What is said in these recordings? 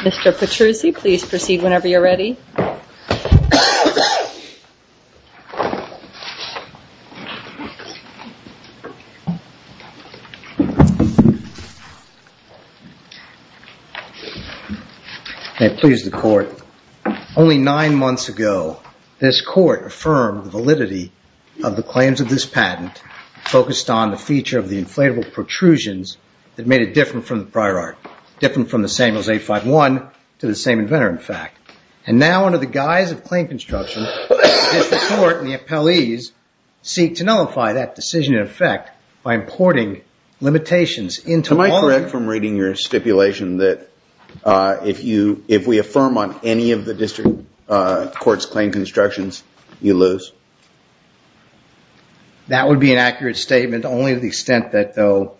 Mr. Petrucci, please proceed whenever you are ready. Only nine months ago, this Court affirmed the validity of the claims of this patent focused on the feature of the inflatable protrusions that made it different from the prior art, different from the Samuels A51 to the same inventor, in fact. And now, under the guise of claim construction, the District Court and the appellees seek to nullify that decision in effect by importing limitations into all of them. Am I correct from reading your stipulation that if we affirm on any of the District Court's claim constructions, you lose? That would be an accurate statement, only to the extent that, though,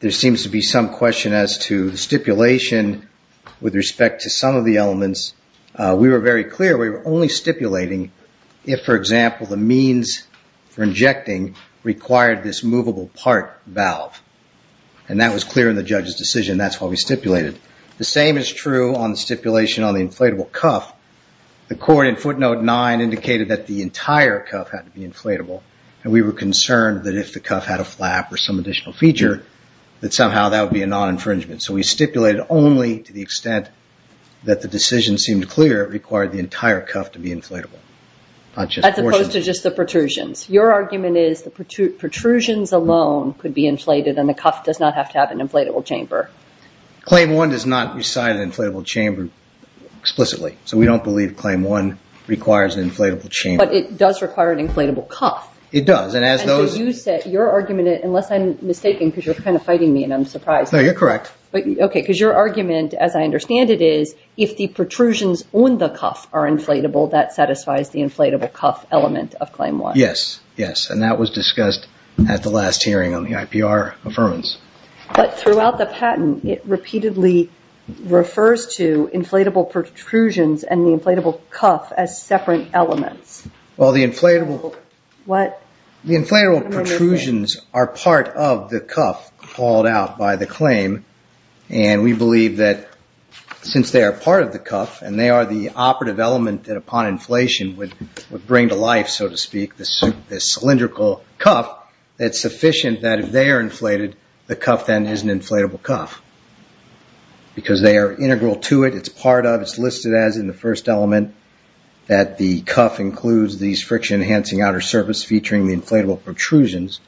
there seems to be some question as to the stipulation with respect to some of the elements. We were very clear we were only stipulating if, for example, the means for injecting required this movable part valve. And that was clear in the judge's decision. That's why we stipulated. The same is true on the stipulation on the inflatable cuff. The Court in footnote 9 indicated that the entire cuff had to be inflatable, and we were concerned that if the cuff had a flap or some additional feature, that somehow that would be a non-infringement. So we stipulated only to the extent that the decision seemed clear it required the entire cuff to be inflatable. As opposed to just the protrusions. Your argument is the protrusions alone could be inflated and the cuff does not have to have an inflatable chamber. Claim 1 does not reside in an inflatable chamber explicitly, so we don't believe Claim 1 requires an inflatable chamber. But it does require an inflatable cuff. It does. And so you said your argument, unless I'm mistaken because you're kind of fighting me and I'm surprised. No, you're correct. Because your argument, as I understand it, is if the protrusions on the cuff are inflatable, that satisfies the inflatable cuff element of Claim 1. Yes, and that was discussed at the last hearing on the IPR Affirmance. But throughout the patent, it repeatedly refers to inflatable protrusions and the inflatable cuff as separate elements. Well, the inflatable protrusions are part of the cuff called out by the claim. And we believe that since they are part of the cuff and they are the operative element that upon inflation would bring to life, so to speak, this cylindrical cuff, it's sufficient that if they are inflated, the cuff then is an inflatable cuff. Because they are integral to it, it's part of it, it's listed as in the first element that the cuff includes these friction enhancing outer surface featuring the inflatable protrusions.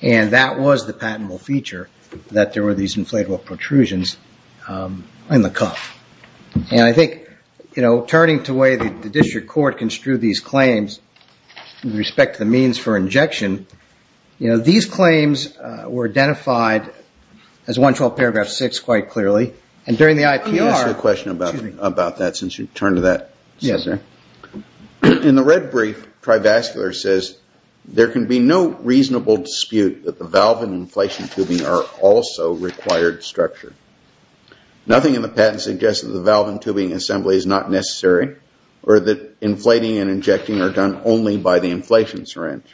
And that was the patentable feature, that there were these inflatable protrusions in the cuff. And I think, you know, turning to the way the district court construed these claims with respect to the means for injection, you know, these claims were identified as 112 paragraph 6 quite clearly. And during the IPR... Can I ask you a question about that, since you've turned to that? Yes, sir. In the red brief, TriVascular says, there can be no reasonable dispute that the valve and inflation tubing are also required structure. Nothing in the patent suggests that the valve and tubing assembly is not necessary or that inflating and injecting are done only by the inflation syringe.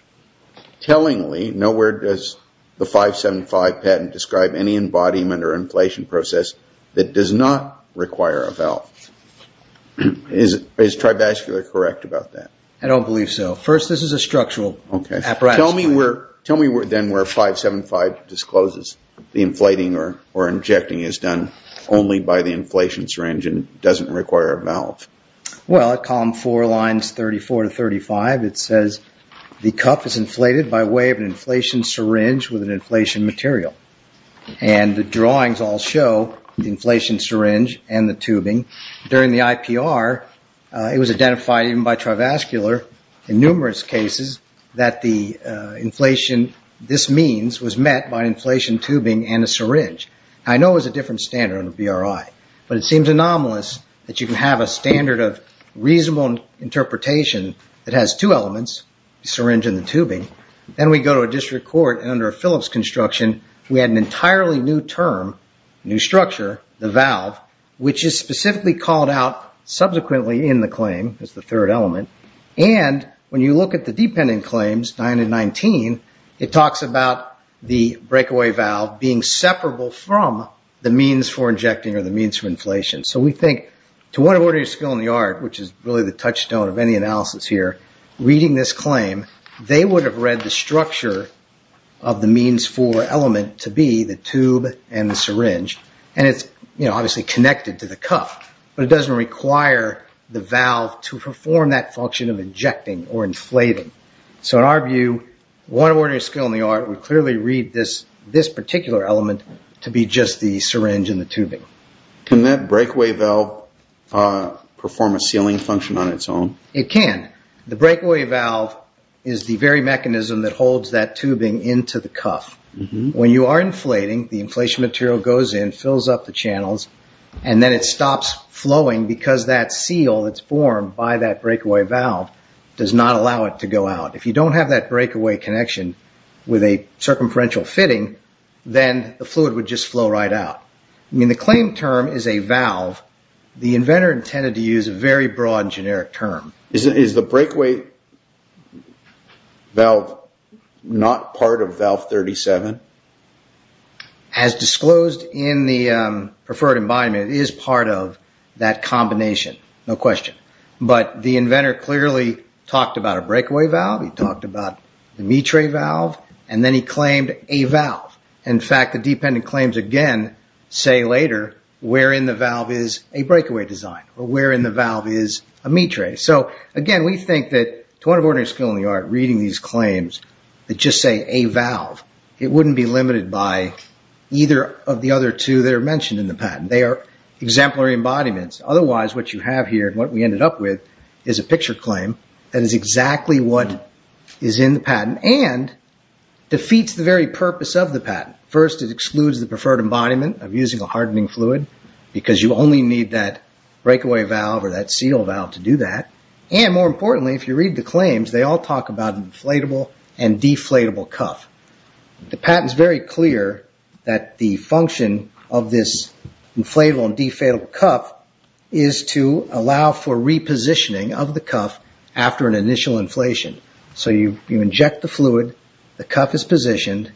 Tellingly, nowhere does the 575 patent describe any embodiment or inflation process that does not require a valve. Is TriVascular correct about that? I don't believe so. First, this is a structural apparatus. Tell me then where 575 discloses the inflating or injecting is done only by the inflation syringe and doesn't require a valve. Well, at column 4, lines 34 to 35, it says the cuff is inflated by way of an inflation syringe with an inflation material. And the drawings all show the inflation syringe and the tubing. During the IPR, it was identified even by TriVascular in numerous cases that the inflation this means was met by an inflation tubing and a syringe. I know it was a different standard under BRI, but it seems anomalous that you can have a standard of reasonable interpretation that has two elements, the syringe and the tubing. Then we go to a district court and under a Phillips construction, we had an entirely new term, new structure, the valve, which is specifically called out subsequently in the claim as the third element. And when you look at the dependent claims, 9 and 19, it talks about the breakaway valve being separable from the means for injecting or the means for inflation. So we think, to what order of skill in the art, which is really the touchstone of any analysis here, reading this claim, they would have read the structure of the means for element to be the tube and the syringe, and it's obviously connected to the cuff, but it doesn't require the valve to perform that function of injecting or inflating. So in our view, what order of skill in the art would clearly read this particular element to be just the syringe and the tubing. Can that breakaway valve perform a sealing function on its own? It can. The breakaway valve is the very mechanism that holds that tubing into the cuff. When you are inflating, the inflation material goes in, fills up the channels, and then it stops flowing because that seal that's formed by that breakaway valve does not allow it to go out. If you don't have that breakaway connection with a circumferential fitting, then the fluid would just flow right out. The claim term is a valve. The inventor intended to use a very broad generic term. Is the breakaway valve not part of valve 37? As disclosed in the preferred environment, it is part of that combination, no question. But the inventor clearly talked about a breakaway valve, he talked about the mitre valve, and then he claimed a valve. In fact, the dependent claims again say later where in the valve is a breakaway design or where in the valve is a mitre. So again, we think that to honor ordinary skill in the art, reading these claims that just say a valve, it wouldn't be limited by either of the other two that are mentioned in the patent. They are exemplary embodiments. Otherwise, what you have here and what we ended up with is a picture claim that is exactly what is in the patent and defeats the very purpose of the patent. First, it excludes the preferred embodiment of using a hardening fluid because you only need that breakaway valve or that seal valve to do that. And more importantly, if you read the claims, they all talk about inflatable and deflatable cuff. The patent is very clear that the function of this inflatable and deflatable cuff is to allow for repositioning of the cuff after an initial inflation. So you inject the fluid. The cuff is positioned.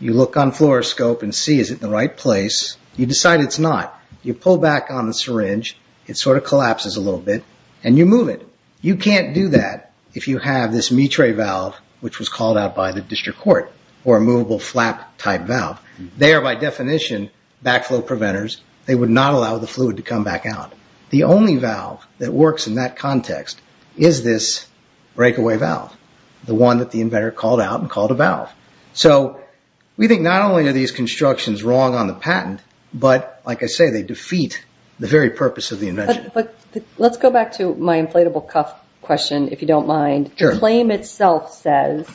You look on fluoroscope and see is it in the right place. You decide it's not. You pull back on the syringe. It sort of collapses a little bit and you move it. You can't do that if you have this mitre valve which was called out by the district court or a movable flap type valve. They are by definition backflow preventers. They would not allow the fluid to come back out. The only valve that works in that context is this breakaway valve. The one that the inventor called out and called a valve. So we think not only are these constructions wrong on the patent, but like I say they defeat the very purpose of the invention. Let's go back to my inflatable cuff question if you don't mind. Claim itself says,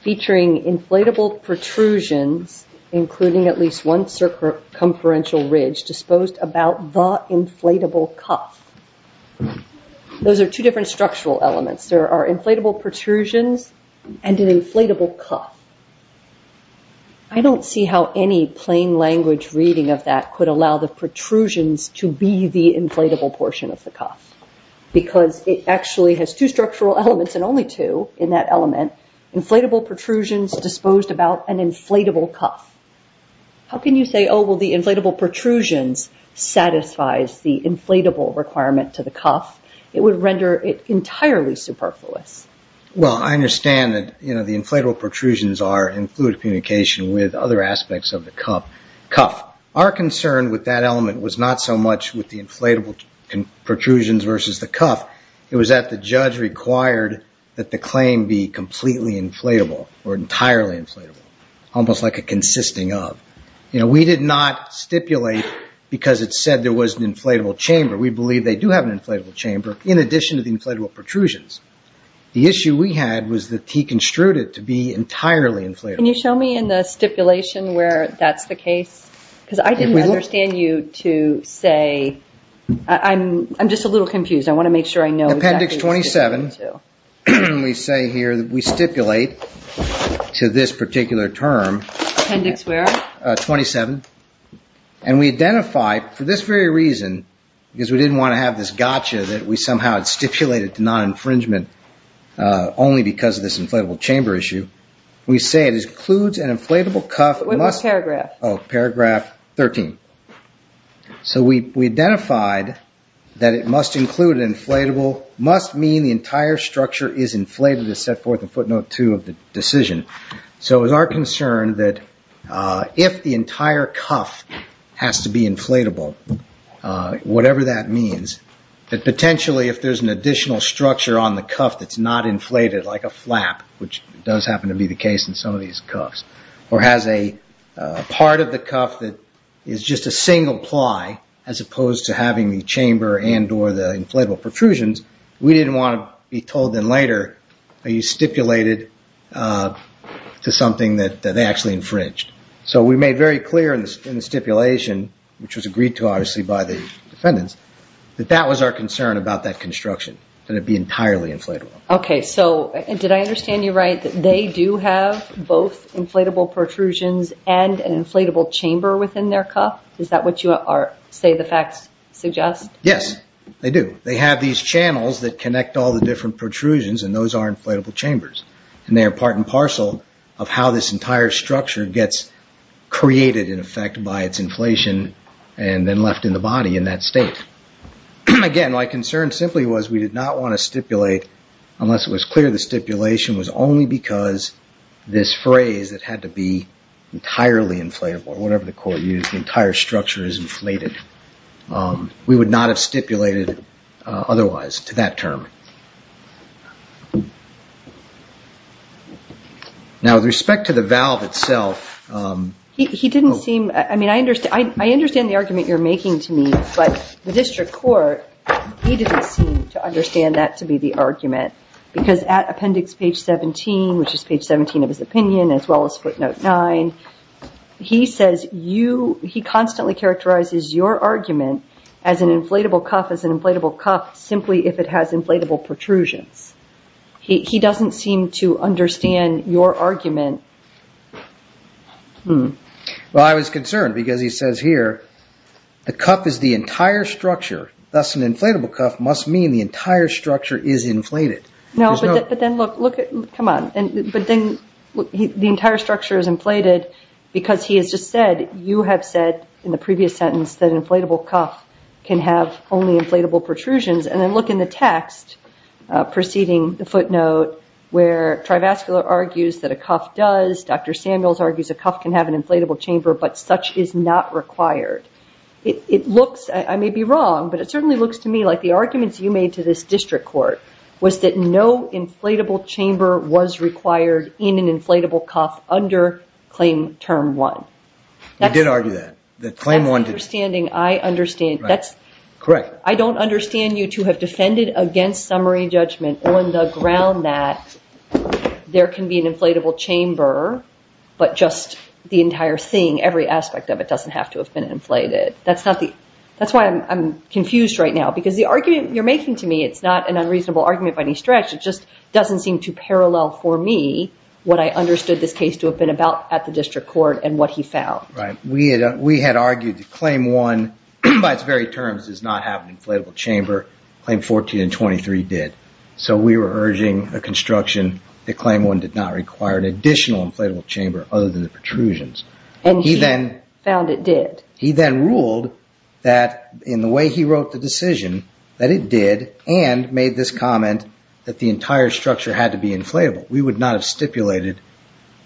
featuring inflatable protrusions including at least one circumferential ridge disposed about the inflatable cuff. Those are two different structural elements. There are inflatable protrusions and an inflatable cuff. I don't see how any plain language reading of that could allow the protrusions to be the inflatable portion of the cuff because it actually has two structural elements and only two in that element. Inflatable protrusions disposed about an inflatable cuff. How can you say the inflatable protrusions satisfies the inflatable requirement to the cuff? It would render it entirely superfluous. Well, I understand that the inflatable protrusions are in fluid communication with other aspects of the cuff. Our concern with that element was not so much with the inflatable protrusions versus the cuff. It was that the judge required that the claim be completely inflatable or entirely inflatable. Almost like a consisting of. We did not stipulate because it said there was an inflatable chamber. We believe they do have an inflatable chamber in addition to the inflatable protrusions. The issue we had was that he construed it to be entirely inflatable. Can you show me in the stipulation where that's the case? Because I didn't understand you to say... I'm just a little confused. I want to make sure I know exactly what you're referring to. We say here that we stipulate to this particular term. Appendix where? 27. And we identify, for this very reason, because we didn't want to have this gotcha that we somehow had stipulated to non-infringement only because of this inflatable chamber issue. We say it includes an inflatable cuff... What paragraph? Oh, paragraph 13. So we identified that it must include an inflatable, must mean the entire structure is inflated as set forth in footnote two of the decision. So it was our concern that if the entire cuff has to be inflatable, whatever that means, that potentially if there's an additional structure on the cuff that's not inflated like a flap, which does happen to be the case in some of these cuffs, or has a part of the just a single ply as opposed to having the chamber and or the inflatable protrusions, we didn't want to be told then later, are you stipulated to something that they actually infringed. So we made very clear in the stipulation, which was agreed to obviously by the defendants, that that was our concern about that construction, that it be entirely inflatable. Okay. So did I understand you right, that they do have both inflatable protrusions and an inflatable chamber within their cuff? Is that what you say the facts suggest? Yes, they do. They have these channels that connect all the different protrusions and those are inflatable chambers. And they are part and parcel of how this entire structure gets created in effect by its inflation and then left in the body in that state. Again, my concern simply was we did not want to stipulate, unless it was clear the stipulation was only because this phrase that had to be entirely inflatable or whatever the court used, the entire structure is inflated. We would not have stipulated otherwise to that term. Now, with respect to the valve itself... He didn't seem... I mean, I understand the argument you're making to me, but the district court, he didn't seem to understand that to be the argument. Because at appendix page 17, which is page 17 of his opinion, as well as footnote 9, he says you... He constantly characterizes your argument as an inflatable cuff, as an inflatable cuff, simply if it has inflatable protrusions. He doesn't seem to understand your argument. Well, I was concerned because he says here, the cuff is the entire structure, thus an entire structure is inflated. No, but then look... Come on. But then the entire structure is inflated because he has just said, you have said in the previous sentence that an inflatable cuff can have only inflatable protrusions. And then look in the text preceding the footnote where TriVascular argues that a cuff does, Dr. Samuels argues a cuff can have an inflatable chamber, but such is not required. It looks... I may be wrong, but it certainly looks to me like the arguments you made to this district court was that no inflatable chamber was required in an inflatable cuff under claim term one. He did argue that. That claim one... I'm understanding. I understand. That's... Correct. I don't understand you to have defended against summary judgment on the ground that there can be an inflatable chamber, but just the entire thing, every aspect of it doesn't have to have been inflated. That's not the... That's why I'm confused right now, because the argument you're making to me, it's not an unreasonable argument by any stretch. It just doesn't seem to parallel for me what I understood this case to have been about at the district court and what he found. Right. We had argued that claim one, by its very terms, does not have an inflatable chamber. Claim 14 and 23 did. So we were urging a construction that claim one did not require an additional inflatable chamber other than the protrusions. And he then... He then ruled that in the way he wrote the decision, that it did and made this comment that the entire structure had to be inflatable. We would not have stipulated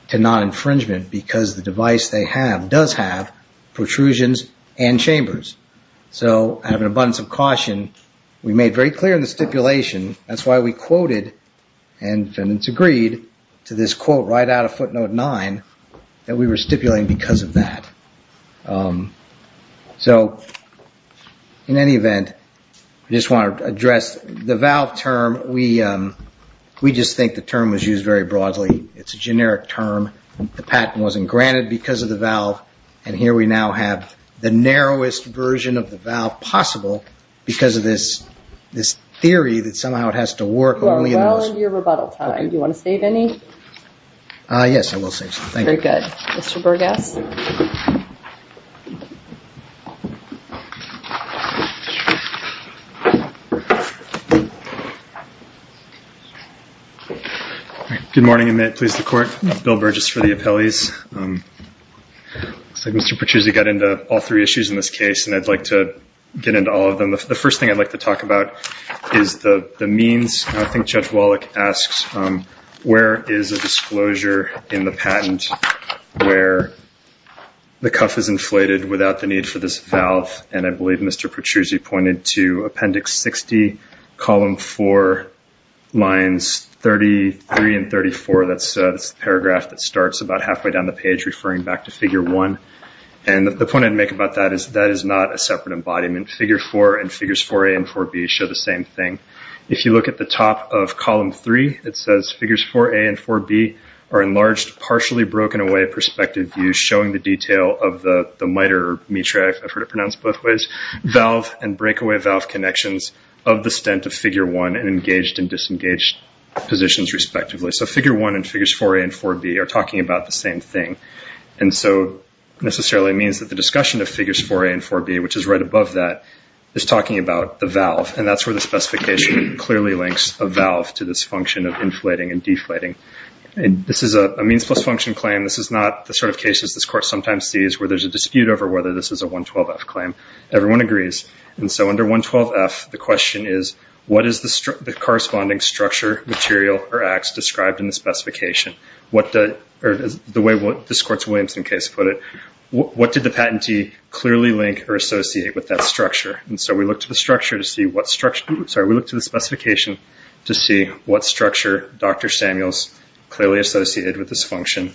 to non-infringement because the device they have does have protrusions and chambers. So I have an abundance of caution. We made very clear in the stipulation, that's why we quoted and it's agreed to this quote right out of footnote nine, that we were stipulating because of that. So in any event, I just want to address the valve term. We just think the term was used very broadly. It's a generic term. The patent wasn't granted because of the valve. And here we now have the narrowest version of the valve possible because of this theory that somehow it has to work only in those... You are well into your rebuttal time. Okay. All right. Do you want to save any? Yes, I will save some. Thank you. Very good. Mr. Burgess? Good morning. And may it please the court, Bill Burgess for the appellees. Looks like Mr. Petruzzi got into all three issues in this case and I'd like to get into all of them. The first thing I'd like to talk about is the means. I think Judge Wallach asks, where is a disclosure in the patent where the cuff is inflated without the need for this valve? And I believe Mr. Petruzzi pointed to Appendix 60, Column 4, Lines 33 and 34. That's the paragraph that starts about halfway down the page referring back to Figure 1. And the point I'd make about that is that is not a separate embodiment. Figure 4 and Figures 4A and 4B show the same thing. If you look at the top of Column 3, it says, Figures 4A and 4B are enlarged, partially broken away perspective views showing the detail of the miter, I've heard it pronounced both ways, valve and breakaway valve connections of the stent of Figure 1 and engaged and disengaged positions respectively. So Figure 1 and Figures 4A and 4B are talking about the same thing. And so it necessarily means that the discussion of Figures 4A and 4B, which is right above that, is talking about the valve. And that's where the specification clearly links a valve to this function of inflating and deflating. This is a means plus function claim. This is not the sort of cases this Court sometimes sees where there's a dispute over whether this is a 112F claim. Everyone agrees. And so under 112F, the question is, what is the corresponding structure, material or acts described in the specification? The way this Courts of Williamson case put it, what did the patentee clearly link or structure? And so we look to the structure to see what structure, sorry, we look to the specification to see what structure Dr. Samuels clearly associated with this function.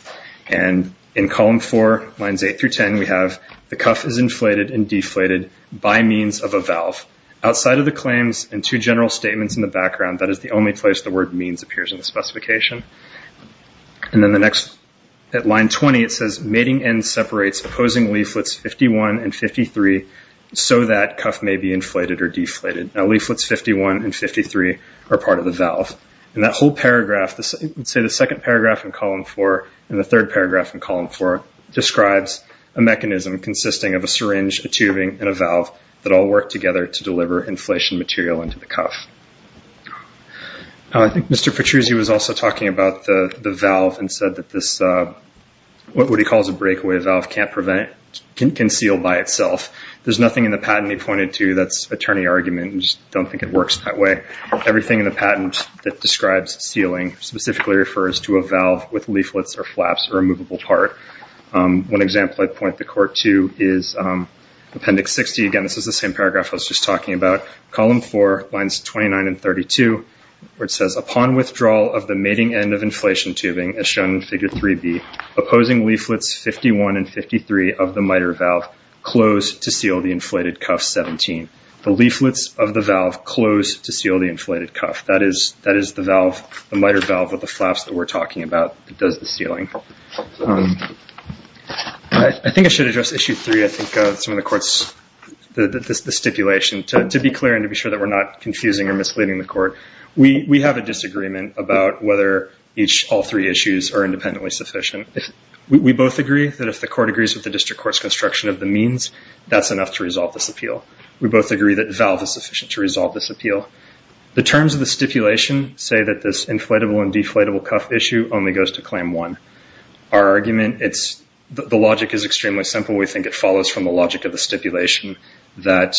And in Column 4, Lines 8 through 10, we have the cuff is inflated and deflated by means of a valve. Outside of the claims and two general statements in the background, that is the only place the word means appears in the specification. And then the next, at Line 20, it says mating end separates opposing leaflets 51 and 53 so that cuff may be inflated or deflated. Now leaflets 51 and 53 are part of the valve. And that whole paragraph, let's say the second paragraph in Column 4 and the third paragraph in Column 4 describes a mechanism consisting of a syringe, a tubing and a valve that all work together to deliver inflation material into the cuff. I think Mr. Petruzzi was also talking about the valve and said that this, what he calls a breakaway valve, can't prevent, can seal by itself. There's nothing in the patent he pointed to that's attorney argument and just don't think it works that way. Everything in the patent that describes sealing specifically refers to a valve with leaflets or flaps or a movable part. One example I'd point the court to is Appendix 60, again this is the same paragraph I was just talking about. Column 4, Lines 29 and 32, where it says upon withdrawal of the mating end of inflation tubing as shown in Figure 3B, opposing leaflets 51 and 53 of the miter valve close to seal the inflated cuff 17. The leaflets of the valve close to seal the inflated cuff. That is the valve, the miter valve with the flaps that we're talking about that does the sealing. I think I should address Issue 3, I think some of the court's, the stipulation, to be clear and to be sure that we're not confusing or misleading the court. We have a disagreement about whether all three issues are independently sufficient. We both agree that if the court agrees with the district court's construction of the means, that's enough to resolve this appeal. We both agree that the valve is sufficient to resolve this appeal. The terms of the stipulation say that this inflatable and deflatable cuff issue only goes to Claim 1. Our argument, the logic is extremely simple. We think it follows from the logic of the stipulation that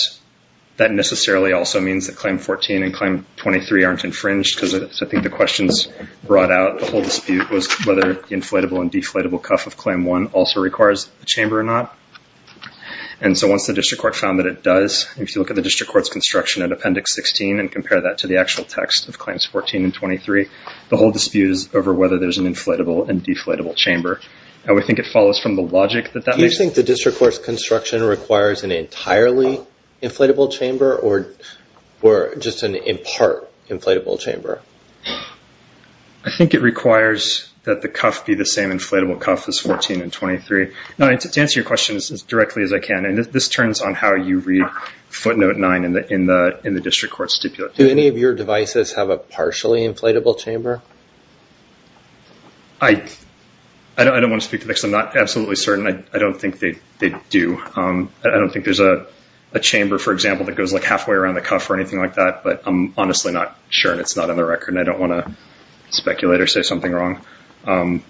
that necessarily also means that Claim 14 and Claim 23 aren't infringed because I think the questions brought out the whole dispute was whether the inflatable and deflatable cuff of Claim 1 also requires the chamber or not. Once the district court found that it does, if you look at the district court's construction in Appendix 16 and compare that to the actual text of Claims 14 and 23, the whole dispute is over whether there's an inflatable and deflatable chamber. We think it follows from the logic that that makes sense. Do you think the district court's construction requires an entirely inflatable chamber or just an in part inflatable chamber? I think it requires that the cuff be the same inflatable cuff as 14 and 23. To answer your question as directly as I can, this turns on how you read footnote 9 in the district court stipulation. Do any of your devices have a partially inflatable chamber? I don't want to speak to this because I'm not absolutely certain. I don't think they do. I don't think there's a chamber, for example, that goes like halfway around the cuff or anything like that. But I'm honestly not sure and it's not on the record and I don't want to speculate or say something wrong. In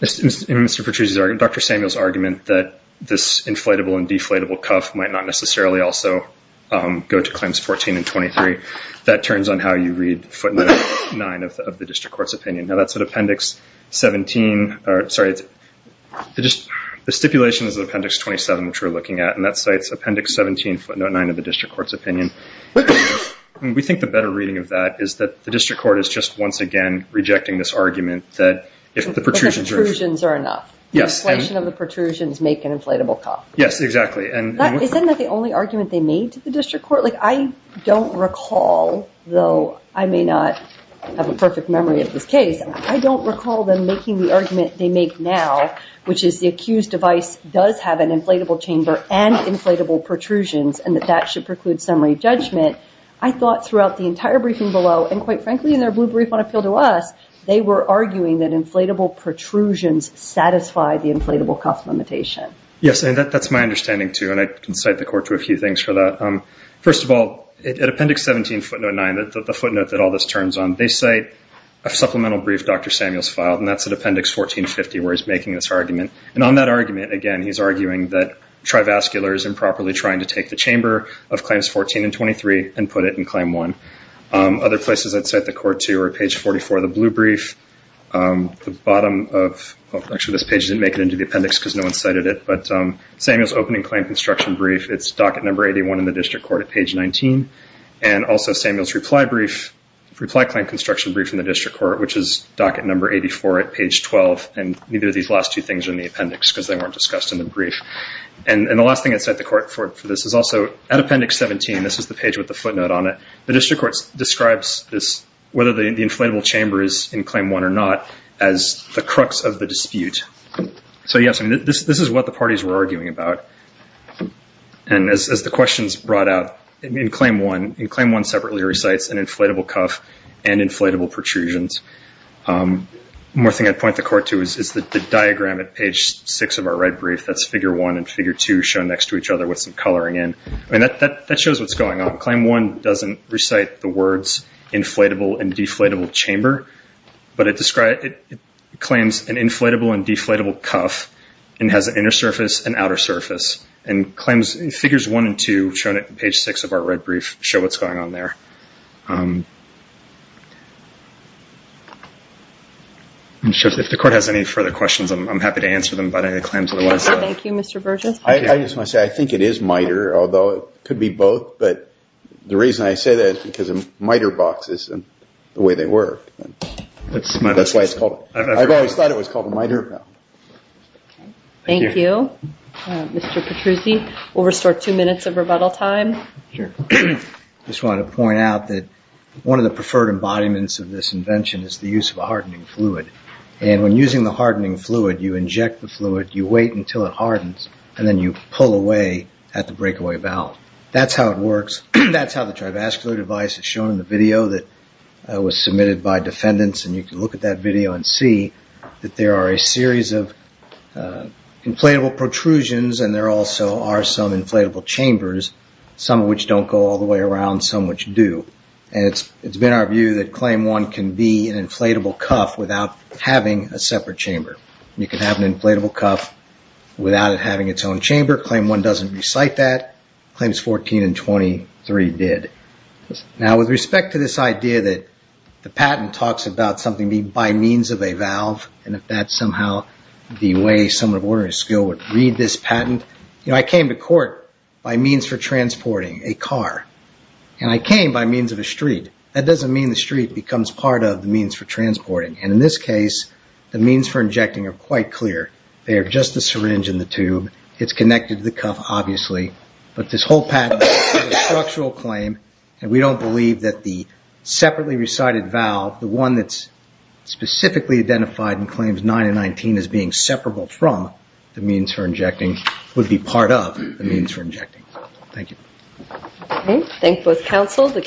Mr. Petruzzi's argument, Dr. Samuel's argument that this inflatable and deflatable cuff might not necessarily also go to Claims 14 and 23, that turns on how you read footnote 9 of the district court's opinion. Now, that's an appendix 17 or sorry, the stipulation is appendix 27, which we're looking at and that cites appendix 17 footnote 9 of the district court's opinion. We think the better reading of that is that the district court is just once again rejecting this argument that if the protrusions are enough, the inflation of the protrusions make an inflatable cuff. Yes, exactly. Isn't that the only argument they made to the district court? I don't recall, though I may not have a perfect memory of this case, I don't recall them making the argument they make now, which is the accused device does have an inflatable chamber and inflatable protrusions and that that should preclude summary judgment. I thought throughout the entire briefing below and quite frankly in their blue brief on appeal to us, they were arguing that inflatable protrusions satisfy the inflatable cuff limitation. Yes, and that's my understanding too and I can cite the court to a few things for that. First of all, at appendix 17 footnote 9, the footnote that all this turns on, they cite a supplemental brief Dr. Samuels filed and that's at appendix 1450 where he's making this argument. And on that argument, again, he's arguing that trivascular is improperly trying to take the chamber of claims 14 and 23 and put it in claim one. Other places I'd cite the court to are page 44 of the blue brief, the bottom of, actually this page didn't make it into the appendix because no one cited it, but Samuels opening claim construction brief, it's docket number 81 in the district court at page 19 and also Samuels reply brief, reply claim construction brief in the district court which is docket number 84 at page 12 and neither of these last two things are in the appendix because they weren't discussed in the brief. And the last thing I'd cite the court for this is also at appendix 17, this is the page with the footnote on it, the district court describes this, whether the inflatable chamber is in claim one or not, as the crux of the dispute. So yes, I mean, this is what the parties were arguing about. And as the questions brought out, in claim one, in claim one separately recites an inflatable cuff and inflatable protrusions. More thing I'd point the court to is the diagram at page six of our red brief, that's figure one and figure two shown next to each other with some coloring in. I mean, that shows what's going on. Claim one doesn't recite the words inflatable and deflatable chamber, but it describes, it claims an inflatable and deflatable cuff and has an inner surface and outer surface. And claims figures one and two shown at page six of our red brief show what's going on there. If the court has any further questions, I'm happy to answer them about any claims otherwise. Thank you, Mr. Burgess. I just want to say, I think it is miter, although it could be both. But the reason I say that is because of miter boxes and the way they work. That's why it's called, I've always thought it was called a miter valve. Thank you. Mr. Petruzzi, we'll restore two minutes of rebuttal time. Sure. I just wanted to point out that one of the preferred embodiments of this invention is the use of a hardening fluid. And when using the hardening fluid, you inject the fluid, you wait until it hardens, and then you pull away at the breakaway valve. That's how it works. That's how the trivascular device is shown in the video that was submitted by defendants. And you can look at that video and see that there are a series of inflatable protrusions and there also are some inflatable chambers, some of which don't go all the way around, some which do. And it's been our view that claim one can be an inflatable cuff without having a separate chamber. You can have an inflatable cuff without it having its own chamber. Claim one doesn't recite that. Claims 14 and 23 did. Now with respect to this idea that the patent talks about something being by means of a valve and if that's somehow the way someone of ordinary skill would read this patent, I came to court by means for transporting a car. And I came by means of a street. That doesn't mean the street becomes part of the means for transporting. And in this case, the means for injecting are quite clear. They are just the syringe and the tube. It's connected to the cuff, obviously. But this whole patent is a structural claim and we don't believe that the separately recited valve, the one that's specifically identified in claims 9 and 19 as being separable from the means for injecting would be part of the means for injecting. Thank you. Okay. Thank you both counsel.